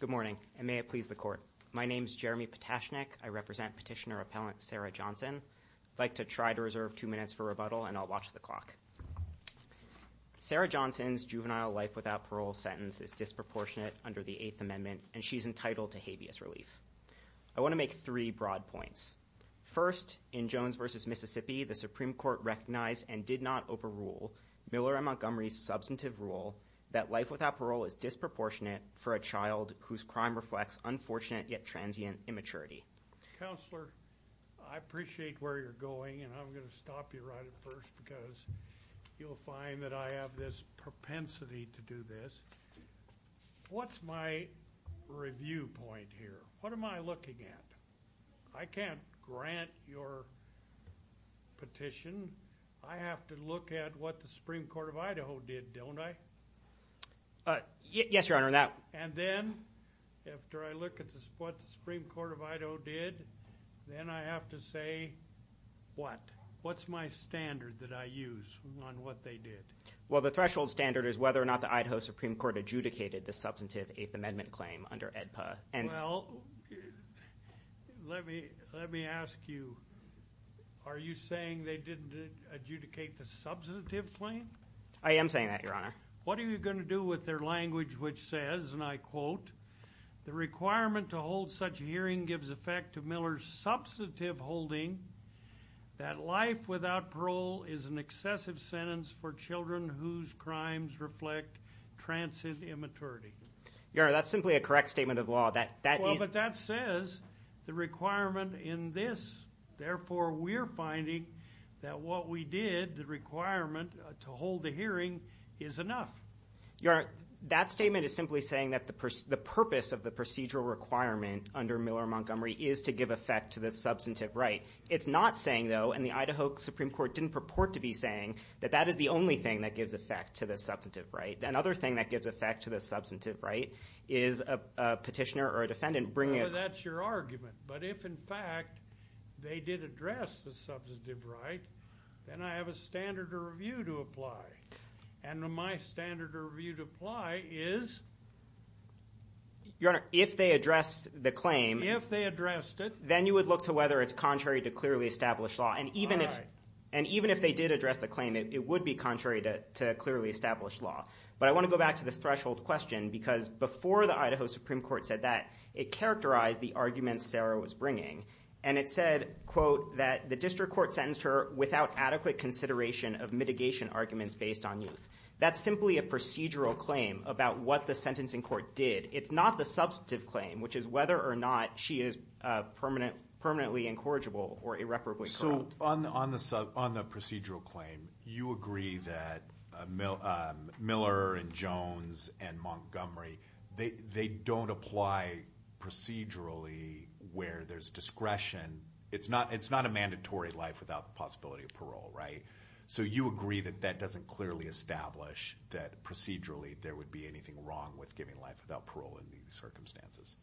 Good morning and may it please the court. My name is Jeremy Potashnik. I represent Petitioner Appellant Sarah Johnson. I'd like to try to reserve two minutes for rebuttal and I'll watch the clock. Sarah Johnson's juvenile life without parole sentence is disproportionate under the Eighth Amendment and she's entitled to habeas relief. I want to make three broad points. First, in Jones v. Mississippi, the Supreme Court recognized and did not overrule Miller v. Montgomery's substantive rule that life without parole is disproportionate for a child whose crime reflects unfortunate yet transient immaturity. Counselor, I appreciate where you're going and I'm going to stop you right at first because you'll find that I have this propensity to do this. What's my review point here? What am I looking at? I can't grant your petition. I have to look at what the Supreme Court of Idaho did, don't I? Yes, Your Honor. And then after I look at what the Supreme Court of Idaho did, then I have to say what? What's my standard that I use on what they did? Well, the threshold standard is whether or not the Idaho Supreme Court adjudicated the substantive Eighth Amendment claim under AEDPA. Well, let me ask you, are you saying they didn't adjudicate the substantive claim? I am saying that, Your Honor. What are you going to do with their language which says, and I quote, the requirement to hold such a hearing gives effect to Miller's substantive holding that life without parole is an excessive sentence for children whose crimes reflect transient immaturity. Your Honor, that's simply a correct statement of law. Well, but that says the requirement in this. Therefore, we're finding that what we did, the requirement to hold the hearing, is enough. Your Honor, that statement is simply saying that the purpose of the procedural requirement under Miller-Montgomery is to give effect to the substantive right. It's not saying, though, and the Idaho Supreme Court didn't purport to be saying, that that is the only thing that gives effect to the substantive right. Another thing that gives effect to the substantive right is a petitioner or a defendant bringing a- Well, that's your argument. But if, in fact, they did address the substantive right, then I have a standard to review to apply. And my standard to review to apply is- Your Honor, if they addressed the claim- If they addressed it- Then you would look to whether it's contrary to clearly established law. And even if they did address the claim, it would be contrary to clearly established law. But I want to go back to this threshold question because before the Idaho Supreme Court said that, it characterized the arguments Sarah was bringing. And it said, quote, that the district court sentenced her without adequate consideration of mitigation arguments based on youth. That's simply a procedural claim about what the sentencing court did. It's not the substantive claim, which is whether or not she is permanently incorrigible or irreparably corrupt. So on the procedural claim, you agree that Miller and Jones and Montgomery, they don't apply procedurally where there's discretion. It's not a mandatory life without the possibility of parole, right? So you agree that that doesn't clearly establish that procedurally there would be anything wrong with giving life without parole in these circumstances.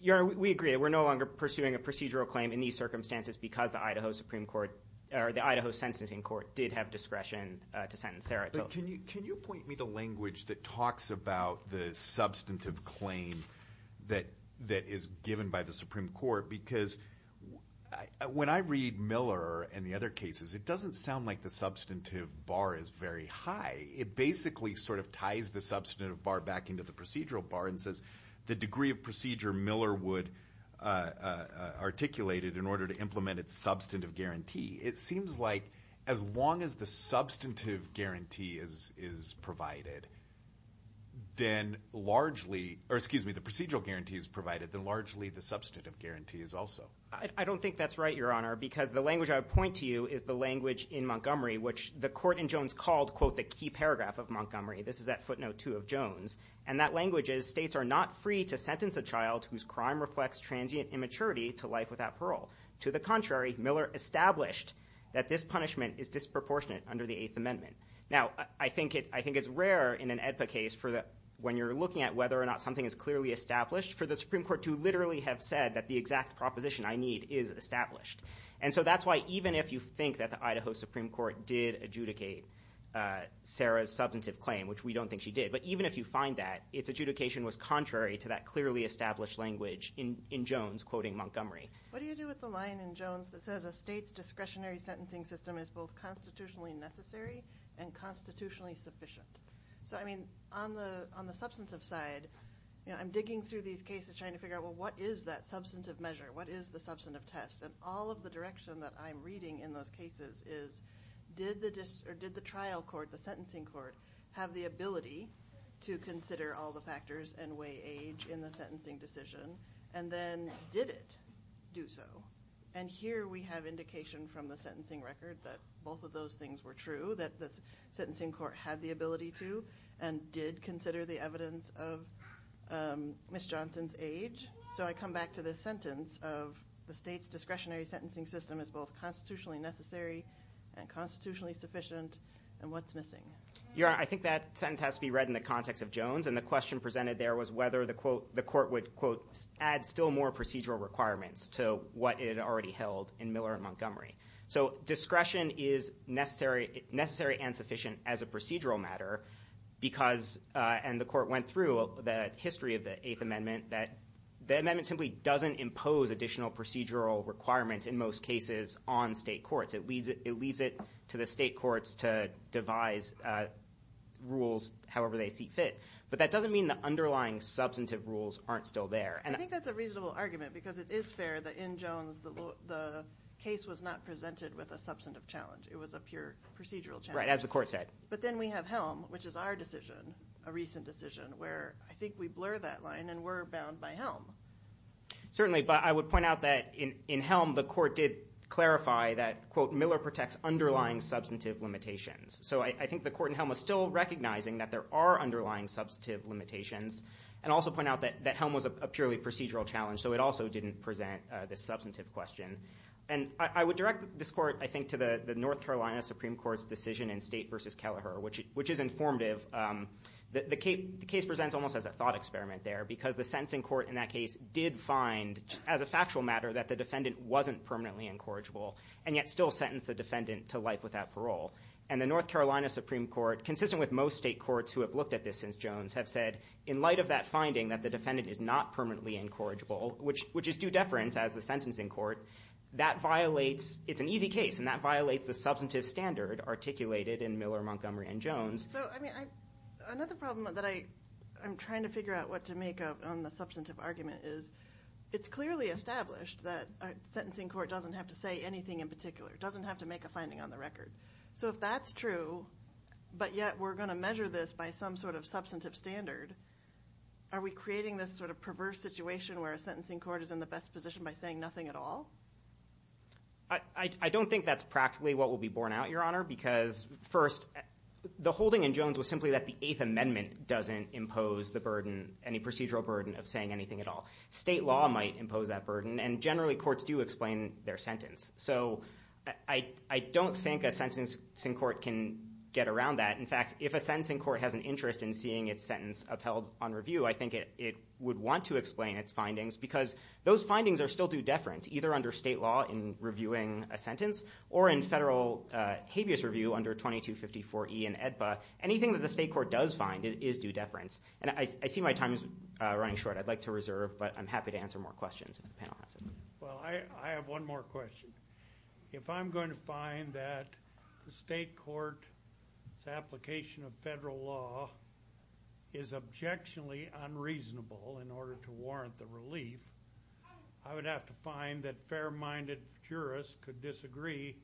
Your Honor, we agree. We're no longer pursuing a procedural claim in these circumstances because the Idaho Supreme Court or the Idaho sentencing court did have discretion to sentence Sarah. But can you point me to language that talks about the substantive claim that is given by the Supreme Court? Because when I read Miller and the other cases, it doesn't sound like the substantive bar is very high. It basically sort of ties the substantive bar back into the procedural bar and says the degree of procedure Miller would articulate it in order to implement its substantive guarantee. It seems like as long as the substantive guarantee is provided, then largely – or excuse me, the procedural guarantee is provided, then largely the substantive guarantee is also. I don't think that's right, Your Honor, because the language I would point to you is the language in Montgomery, which the court in Jones called, quote, the key paragraph of Montgomery. This is at footnote two of Jones. And that language is states are not free to sentence a child whose crime reflects transient immaturity to life without parole. To the contrary, Miller established that this punishment is disproportionate under the Eighth Amendment. Now, I think it's rare in an AEDPA case when you're looking at whether or not something is clearly established for the Supreme Court to literally have said that the exact proposition I need is established. And so that's why even if you think that the Idaho Supreme Court did adjudicate Sarah's substantive claim, which we don't think she did, but even if you find that, its adjudication was contrary to that clearly established language in Jones quoting Montgomery. What do you do with the line in Jones that says a state's discretionary sentencing system is both constitutionally necessary and constitutionally sufficient? So, I mean, on the substantive side, you know, I'm digging through these cases trying to figure out, well, what is that substantive measure? What is the substantive test? And all of the direction that I'm reading in those cases is did the trial court, the sentencing court, have the ability to consider all the factors and weigh age in the sentencing decision? And then did it do so? And here we have indication from the sentencing record that both of those things were true, that the sentencing court had the ability to and did consider the evidence of Ms. Johnson's age. So I come back to the sentence of the state's discretionary sentencing system is both constitutionally necessary and constitutionally sufficient. And what's missing? Your Honor, I think that sentence has to be read in the context of Jones. And the question presented there was whether the court would, quote, add still more procedural requirements to what it had already held in Miller and Montgomery. So discretion is necessary and sufficient as a procedural matter because, and the court went through the history of the Eighth Amendment, that the amendment simply doesn't impose additional procedural requirements in most cases on state courts. It leaves it to the state courts to devise rules however they see fit. But that doesn't mean the underlying substantive rules aren't still there. I think that's a reasonable argument because it is fair that in Jones the case was not presented with a substantive challenge. It was a pure procedural challenge. Right, as the court said. But then we have Helm, which is our decision, a recent decision, where I think we blur that line and we're bound by Helm. Certainly, but I would point out that in Helm the court did clarify that, quote, Miller protects underlying substantive limitations. So I think the court in Helm was still recognizing that there are underlying substantive limitations and also point out that Helm was a purely procedural challenge, so it also didn't present the substantive question. And I would direct this court, I think, to the North Carolina Supreme Court's decision in State v. Kelleher, which is informative. The case presents almost as a thought experiment there because the sentencing court in that case did find, as a factual matter, that the defendant wasn't permanently incorrigible and yet still sentenced the defendant to life without parole. And the North Carolina Supreme Court, consistent with most state courts who have looked at this since Jones, have said, in light of that finding that the defendant is not permanently incorrigible, which is due deference as the sentencing court, that violates, it's an easy case, and that violates the substantive standard articulated in Miller, Montgomery, and Jones. So, I mean, another problem that I'm trying to figure out what to make on the substantive argument is it's clearly established that a sentencing court doesn't have to say anything in particular, doesn't have to make a finding on the record. So if that's true, but yet we're going to measure this by some sort of substantive standard, are we creating this sort of perverse situation where a sentencing court is in the best position by saying nothing at all? I don't think that's practically what will be borne out, Your Honor, because, first, the holding in Jones was simply that the Eighth Amendment doesn't impose the burden, any procedural burden of saying anything at all. State law might impose that burden, and generally courts do explain their sentence. So I don't think a sentencing court can get around that. In fact, if a sentencing court has an interest in seeing its sentence upheld on review, I think it would want to explain its findings because those findings are still due deference, either under state law in reviewing a sentence or in federal habeas review under 2254E in AEDPA. Anything that the state court does find is due deference. And I see my time is running short. I'd like to reserve, but I'm happy to answer more questions if the panel has any. Well, I have one more question. If I'm going to find that the state court's application of federal law is objectionably unreasonable in order to warrant the relief, I would have to find that fair-minded jurists could disagree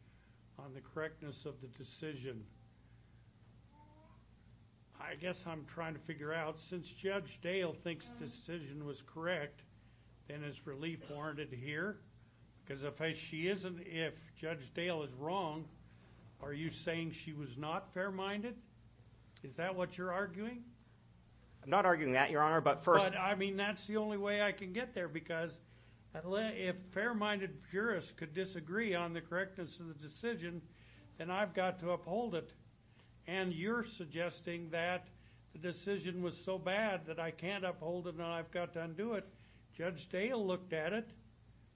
on the correctness of the decision. I guess I'm trying to figure out, since Judge Dale thinks the decision was correct, then is relief warranted here? Because if Judge Dale is wrong, are you saying she was not fair-minded? Is that what you're arguing? I'm not arguing that, Your Honor, but first— But, I mean, that's the only way I can get there, because if fair-minded jurists could disagree on the correctness of the decision, then I've got to uphold it. And you're suggesting that the decision was so bad that I can't uphold it and I've got to undo it. Judge Dale looked at it.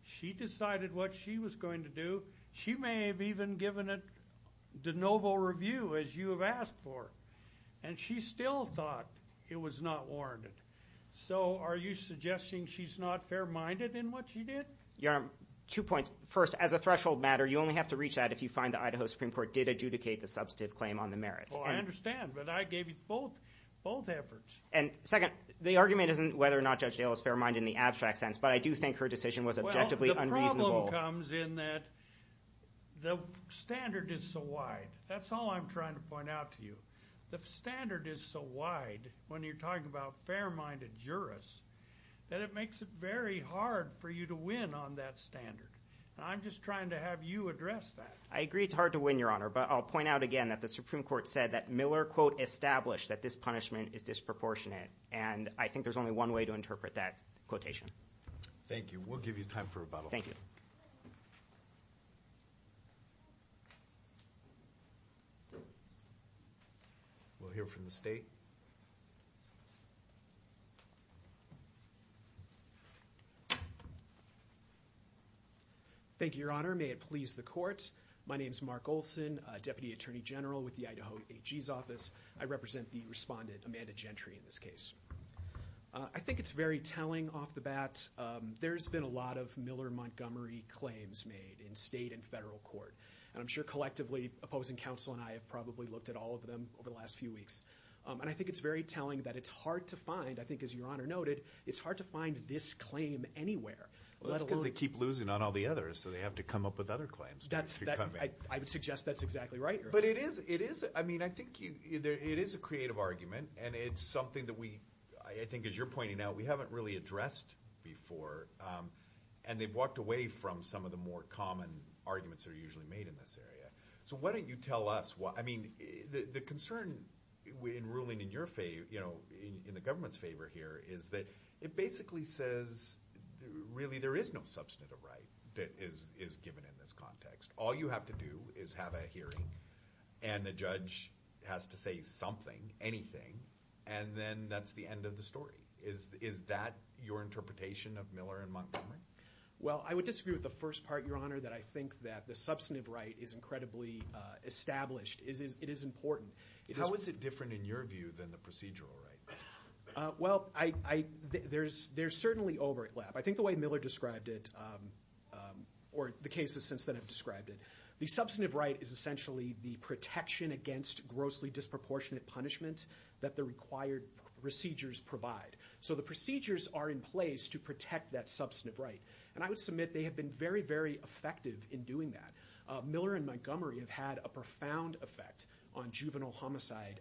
She decided what she was going to do. She may have even given it de novo review, as you have asked for. And she still thought it was not warranted. So are you suggesting she's not fair-minded in what she did? Your Honor, two points. First, as a threshold matter, you only have to reach that if you find the Idaho Supreme Court did adjudicate the substantive claim on the merits. Well, I understand, but I gave you both efforts. And, second, the argument isn't whether or not Judge Dale is fair-minded in the abstract sense, but I do think her decision was objectively unreasonable. Well, the problem comes in that the standard is so wide. That's all I'm trying to point out to you. The standard is so wide when you're talking about fair-minded jurists that it makes it very hard for you to win on that standard. And I'm just trying to have you address that. I agree it's hard to win, Your Honor, but I'll point out again that the Supreme Court said that Miller, quote, established that this punishment is disproportionate. And I think there's only one way to interpret that quotation. Thank you. We'll give you time for rebuttal. We'll hear from the State. Thank you, Your Honor. May it please the Court. My name is Mark Olson, Deputy Attorney General with the Idaho AG's office. I represent the respondent, Amanda Gentry, in this case. I think it's very telling off the bat. There's been a lot of Miller-Montgomery claims made in state and federal court. And I'm sure collectively, opposing counsel and I have probably looked at all of them over the last few weeks. And I think it's very telling that it's hard to find, I think as Your Honor noted, it's hard to find this claim anywhere. Well, that's because they keep losing on all the others, so they have to come up with other claims. I would suggest that's exactly right, Your Honor. But it is a creative argument, and it's something that we, I think as you're pointing out, we haven't really addressed before. And they've walked away from some of the more common arguments that are usually made in this area. So why don't you tell us, I mean, the concern in ruling in your favor, in the government's favor here, is that it basically says really there is no substantive right that is given in this context. All you have to do is have a hearing, and the judge has to say something, anything, and then that's the end of the story. Is that your interpretation of Miller-Montgomery? Well, I would disagree with the first part, Your Honor, that I think that the substantive right is incredibly established. It is important. How is it different in your view than the procedural right? Well, there's certainly overlap. I think the way Miller described it, or the cases since then have described it, the substantive right is essentially the protection against grossly disproportionate punishment that the required procedures provide. So the procedures are in place to protect that substantive right. And I would submit they have been very, very effective in doing that. Miller and Montgomery have had a profound effect on juvenile homicide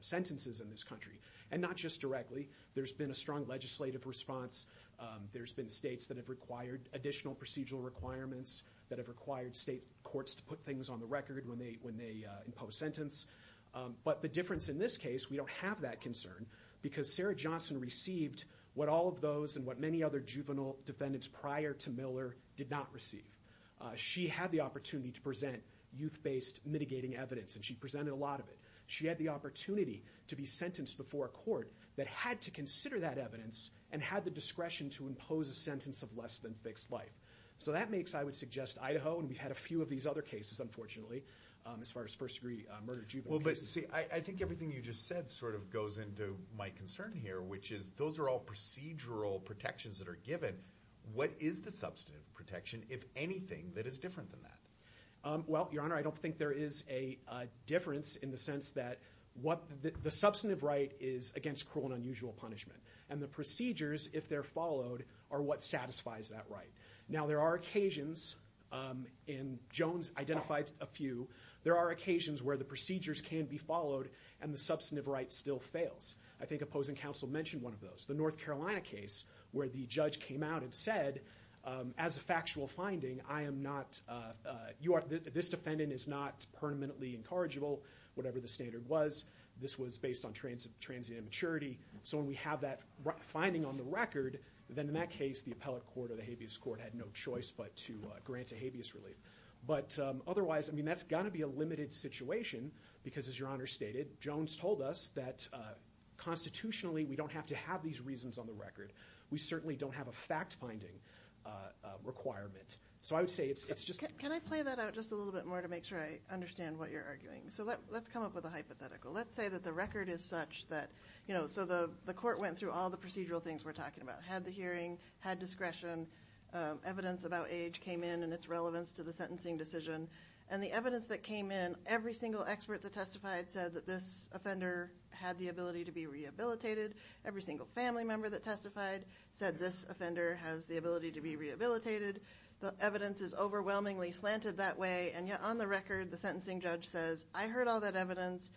sentences in this country, and not just directly. There's been a strong legislative response. There's been states that have required additional procedural requirements, that have required state courts to put things on the record when they impose sentence. But the difference in this case, we don't have that concern because Sarah Johnson received what all of those and what many other juvenile defendants prior to Miller did not receive. She had the opportunity to present youth-based mitigating evidence, and she presented a lot of it. She had the opportunity to be sentenced before a court that had to consider that evidence and had the discretion to impose a sentence of less than fixed life. So that makes, I would suggest, Idaho, and we've had a few of these other cases, unfortunately, as far as first-degree murder juvenile cases. Well, but see, I think everything you just said sort of goes into my concern here, which is those are all procedural protections that are given. What is the substantive protection, if anything, that is different than that? Well, Your Honor, I don't think there is a difference in the sense that the substantive right is against cruel and unusual punishment, and the procedures, if they're followed, are what satisfies that right. Now, there are occasions, and Jones identified a few, there are occasions where the procedures can be followed and the substantive right still fails. I think opposing counsel mentioned one of those. The North Carolina case where the judge came out and said, as a factual finding, I am not, you are, this defendant is not permanently incorrigible, whatever the standard was. This was based on transient immaturity. So when we have that finding on the record, then in that case, the appellate court or the habeas court had no choice but to grant a habeas relief. But otherwise, I mean, that's got to be a limited situation because, as Your Honor stated, Jones told us that constitutionally we don't have to have these reasons on the record. We certainly don't have a fact-finding requirement. So I would say it's just – Can I play that out just a little bit more to make sure I understand what you're arguing? So let's come up with a hypothetical. Let's say that the record is such that, you know, so the court went through all the procedural things we're talking about, had the hearing, had discretion, evidence about age came in and its relevance to the sentencing decision. And the evidence that came in, every single expert that testified said that this offender had the ability to be rehabilitated. Every single family member that testified said this offender has the ability to be rehabilitated. The evidence is overwhelmingly slanted that way. And yet on the record, the sentencing judge says, I heard all that evidence.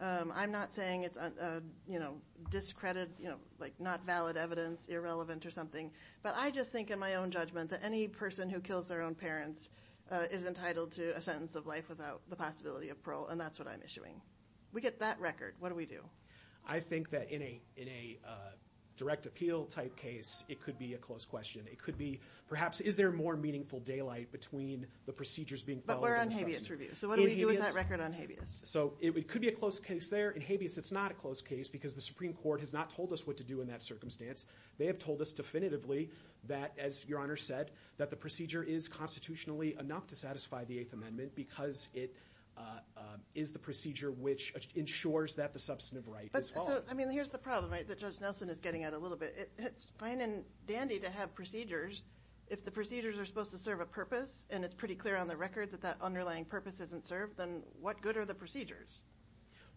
I'm not saying it's, you know, discredited, you know, like not valid evidence, irrelevant or something. But I just think in my own judgment that any person who kills their own parents is entitled to a sentence of life without the possibility of parole. And that's what I'm issuing. We get that record. What do we do? I think that in a direct appeal-type case, it could be a close question. It could be, perhaps, is there more meaningful daylight between the procedures being followed and the sentencing? But we're on habeas review. So what do we do with that record on habeas? So it could be a close case there. In habeas, it's not a close case because the Supreme Court has not told us what to do in that circumstance. They have told us definitively that, as Your Honor said, that the procedure is constitutionally enough to satisfy the Eighth Amendment because it is the procedure which ensures that the substantive right is followed. So, I mean, here's the problem that Judge Nelson is getting at a little bit. It's fine and dandy to have procedures. If the procedures are supposed to serve a purpose, and it's pretty clear on the record that that underlying purpose isn't served, then what good are the procedures?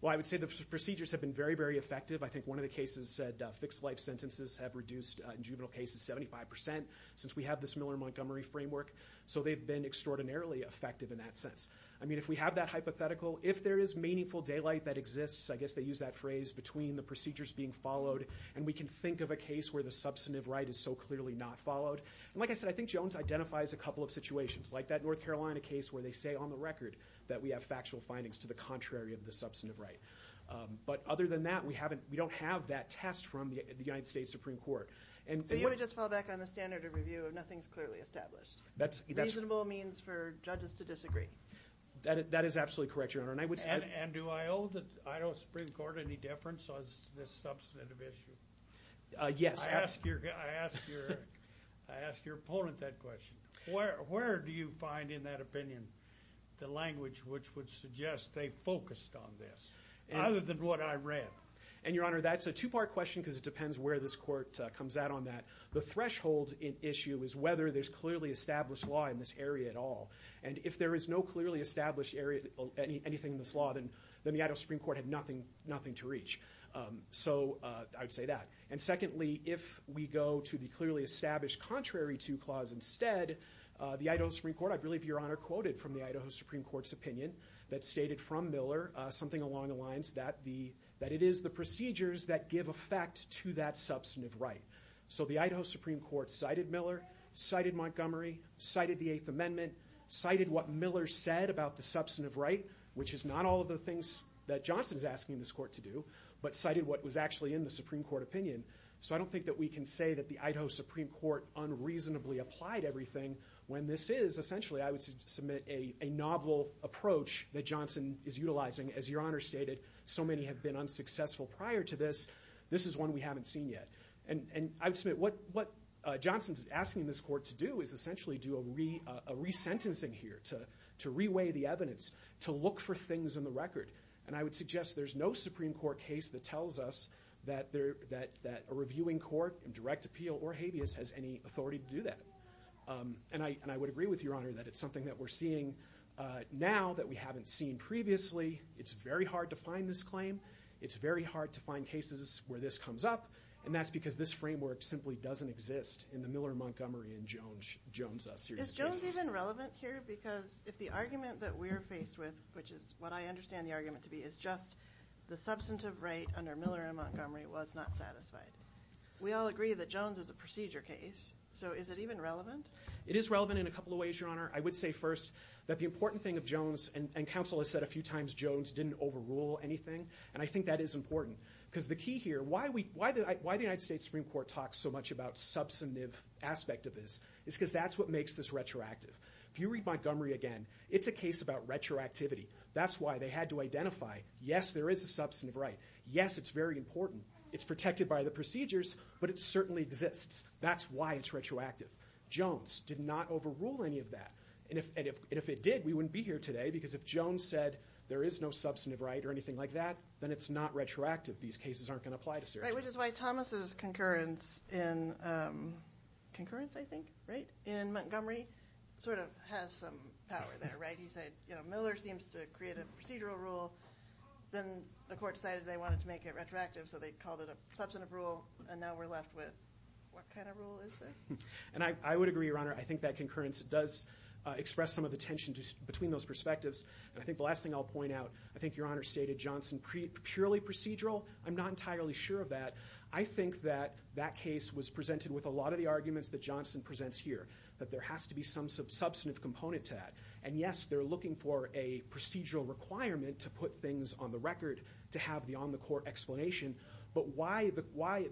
Well, I would say the procedures have been very, very effective. I think one of the cases said fixed-life sentences have reduced, in juvenile cases, 75 percent since we have this Miller-Montgomery framework. So they've been extraordinarily effective in that sense. I mean, if we have that hypothetical, if there is meaningful daylight that exists, I guess they use that phrase, between the procedures being followed, and we can think of a case where the substantive right is so clearly not followed. And like I said, I think Jones identifies a couple of situations, like that North Carolina case where they say on the record that we have factual findings to the contrary of the substantive right. But other than that, we don't have that test from the United States Supreme Court. So you want to just fall back on the standard of review of nothing is clearly established? Reasonable means for judges to disagree. That is absolutely correct, Your Honor. And do I owe the Supreme Court any deference on this substantive issue? Yes. I ask your opponent that question. Where do you find, in that opinion, the language which would suggest they focused on this, other than what I read? And, Your Honor, that's a two-part question because it depends where this court comes out on that. The threshold issue is whether there's clearly established law in this area at all. And if there is no clearly established area, anything in this law, then the Idaho Supreme Court had nothing to reach. So I would say that. And secondly, if we go to the clearly established contrary to clause instead, the Idaho Supreme Court, I believe Your Honor quoted from the Idaho Supreme Court's opinion that stated from Miller something along the lines that it is the procedures that give effect to that substantive right. So the Idaho Supreme Court cited Miller, cited Montgomery, cited the Eighth Amendment, cited what Miller said about the substantive right, which is not all of the things that Johnson is asking this court to do, but cited what was actually in the Supreme Court opinion. So I don't think that we can say that the Idaho Supreme Court unreasonably applied everything when this is. Essentially, I would submit a novel approach that Johnson is utilizing. As Your Honor stated, so many have been unsuccessful prior to this. This is one we haven't seen yet. And I would submit what Johnson is asking this court to do is essentially do a resentencing here, to reweigh the evidence, to look for things in the record. And I would suggest there's no Supreme Court case that tells us that a reviewing court in direct appeal or habeas has any authority to do that. And I would agree with Your Honor that it's something that we're seeing now that we haven't seen previously. It's very hard to find this claim. It's very hard to find cases where this comes up. And that's because this framework simply doesn't exist in the Miller, Montgomery, and Jones series of cases. Is it even relevant here? Because if the argument that we're faced with, which is what I understand the argument to be, is just the substantive right under Miller and Montgomery was not satisfied, we all agree that Jones is a procedure case. So is it even relevant? It is relevant in a couple of ways, Your Honor. I would say first that the important thing of Jones, and counsel has said a few times Jones didn't overrule anything, and I think that is important because the key here, why the United States Supreme Court talks so much about substantive aspect of this is because that's what makes this retroactive. If you read Montgomery again, it's a case about retroactivity. That's why they had to identify, yes, there is a substantive right. Yes, it's very important. It's protected by the procedures, but it certainly exists. That's why it's retroactive. Jones did not overrule any of that. And if it did, we wouldn't be here today because if Jones said there is no substantive right or anything like that, then it's not retroactive. These cases aren't going to apply to surgery. Right, which is why Thomas's concurrence in Montgomery sort of has some power there, right? He said Miller seems to create a procedural rule. Then the court decided they wanted to make it retroactive, so they called it a substantive rule, and now we're left with what kind of rule is this? And I would agree, Your Honor. I think that concurrence does express some of the tension between those perspectives. And I think the last thing I'll point out, I think Your Honor stated Johnson purely procedural. I'm not entirely sure of that. I think that that case was presented with a lot of the arguments that Johnson presents here, that there has to be some substantive component to that. And, yes, they're looking for a procedural requirement to put things on the record, to have the on-the-court explanation. But why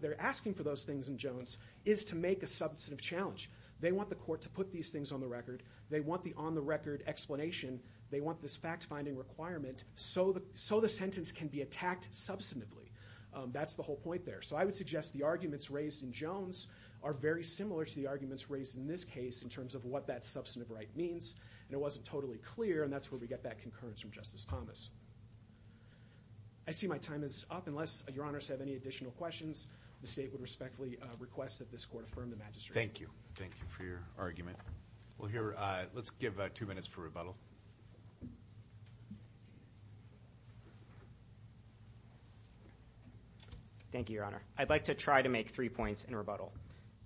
they're asking for those things in Jones is to make a substantive challenge. They want the court to put these things on the record. They want the on-the-record explanation. They want this fact-finding requirement so the sentence can be attacked substantively. That's the whole point there. So I would suggest the arguments raised in Jones are very similar to the arguments raised in this case in terms of what that substantive right means. And it wasn't totally clear, and that's where we get that concurrence from Justice Thomas. I see my time is up. Unless Your Honors have any additional questions, the state would respectfully request that this court affirm the magistrate. Thank you. Thank you for your argument. Let's give two minutes for rebuttal. Thank you, Your Honor. I'd like to try to make three points in rebuttal.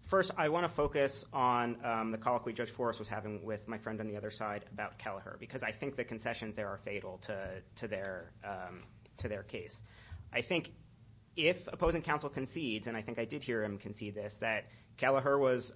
First, I want to focus on the call that Judge Forrest was having with my friend on the other side about Kelleher because I think the concessions there are fatal to their case. I think if opposing counsel concedes, and I think I did hear him concede this, that Kelleher was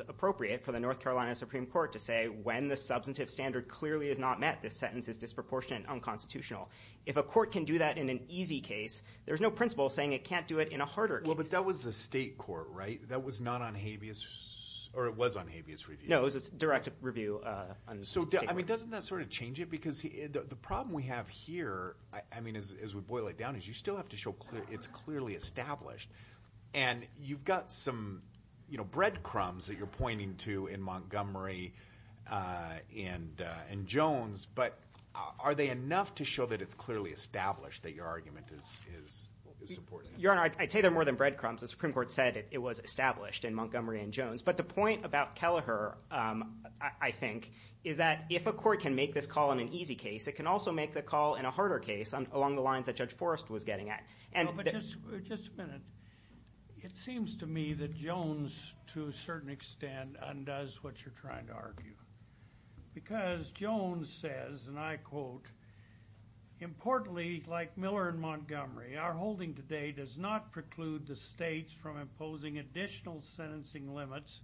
appropriate for the North Carolina Supreme Court to say, when the substantive standard clearly is not met, this sentence is disproportionate and unconstitutional. If a court can do that in an easy case, there's no principle saying it can't do it in a harder case. Well, but that was the state court, right? That was not on habeas or it was on habeas review. No, it was a direct review on the state court. So, I mean, doesn't that sort of change it? Because the problem we have here, I mean, as we boil it down, is you still have to show it's clearly established. And you've got some breadcrumbs that you're pointing to in Montgomery and Jones, but are they enough to show that it's clearly established that your argument is supported? Your Honor, I'd say they're more than breadcrumbs. The Supreme Court said it was established in Montgomery and Jones. But the point about Kelleher, I think, is that if a court can make this call in an easy case, it can also make the call in a harder case along the lines that Judge Forrest was getting at. But just a minute. It seems to me that Jones, to a certain extent, undoes what you're trying to argue. Because Jones says, and I quote, Importantly, like Miller and Montgomery, our holding today does not preclude the states from imposing additional sentencing limits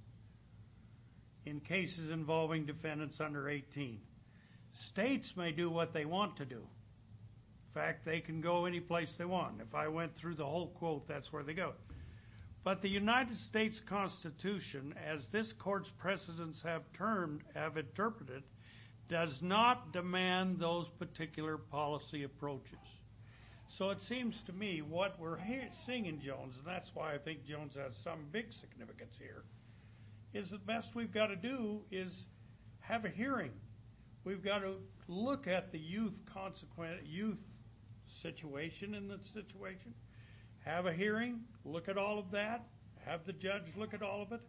in cases involving defendants under 18. States may do what they want to do. In fact, they can go any place they want. If I went through the whole quote, that's where they go. But the United States Constitution, as this court's precedents have termed, have interpreted, does not demand those particular policy approaches. So it seems to me what we're seeing in Jones, and that's why I think Jones has some big significance here, is the best we've got to do is have a hearing. We've got to look at the youth situation and the situation. Have a hearing. Look at all of that. Have the judge look at all of it.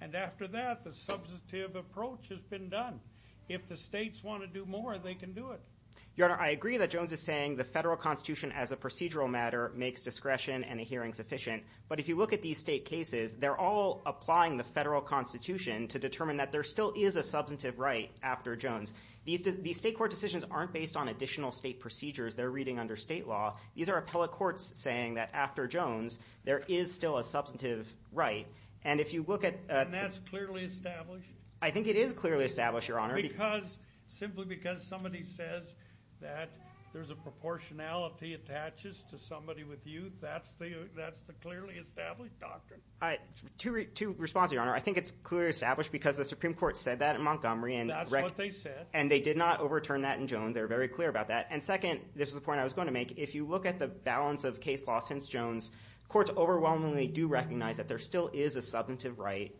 And after that, the substantive approach has been done. If the states want to do more, they can do it. Your Honor, I agree that Jones is saying the federal constitution as a procedural matter makes discretion and a hearing sufficient. But if you look at these state cases, they're all applying the federal constitution to determine that there still is a substantive right after Jones. These state court decisions aren't based on additional state procedures they're reading under state law. These are appellate courts saying that after Jones, there is still a substantive right. And if you look at the- And that's clearly established? I think it is clearly established, Your Honor. Because simply because somebody says that there's a proportionality attaches to somebody with youth, that's the clearly established doctrine? Two responses, Your Honor. I think it's clearly established because the Supreme Court said that in Montgomery. That's what they said. And they did not overturn that in Jones. They were very clear about that. And second, this is the point I was going to make. If you look at the balance of case law since Jones, courts overwhelmingly do recognize that there still is a substantive right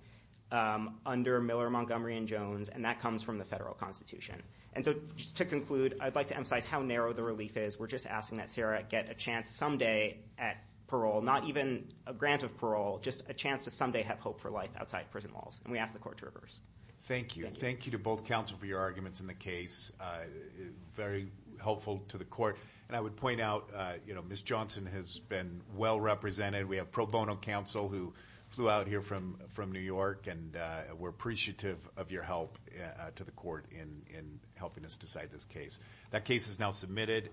under Miller, Montgomery, and Jones, and that comes from the federal constitution. And so to conclude, I'd like to emphasize how narrow the relief is. We're just asking that Sarah get a chance someday at parole, not even a grant of parole, just a chance to someday have hope for life outside prison walls. And we ask the court to reverse. Thank you. Thank you to both counsel for your arguments in the case. Very helpful to the court. And I would point out, you know, Ms. Johnson has been well represented. We have pro bono counsel who flew out here from New York. And we're appreciative of your help to the court in helping us decide this case. That case is now submitted.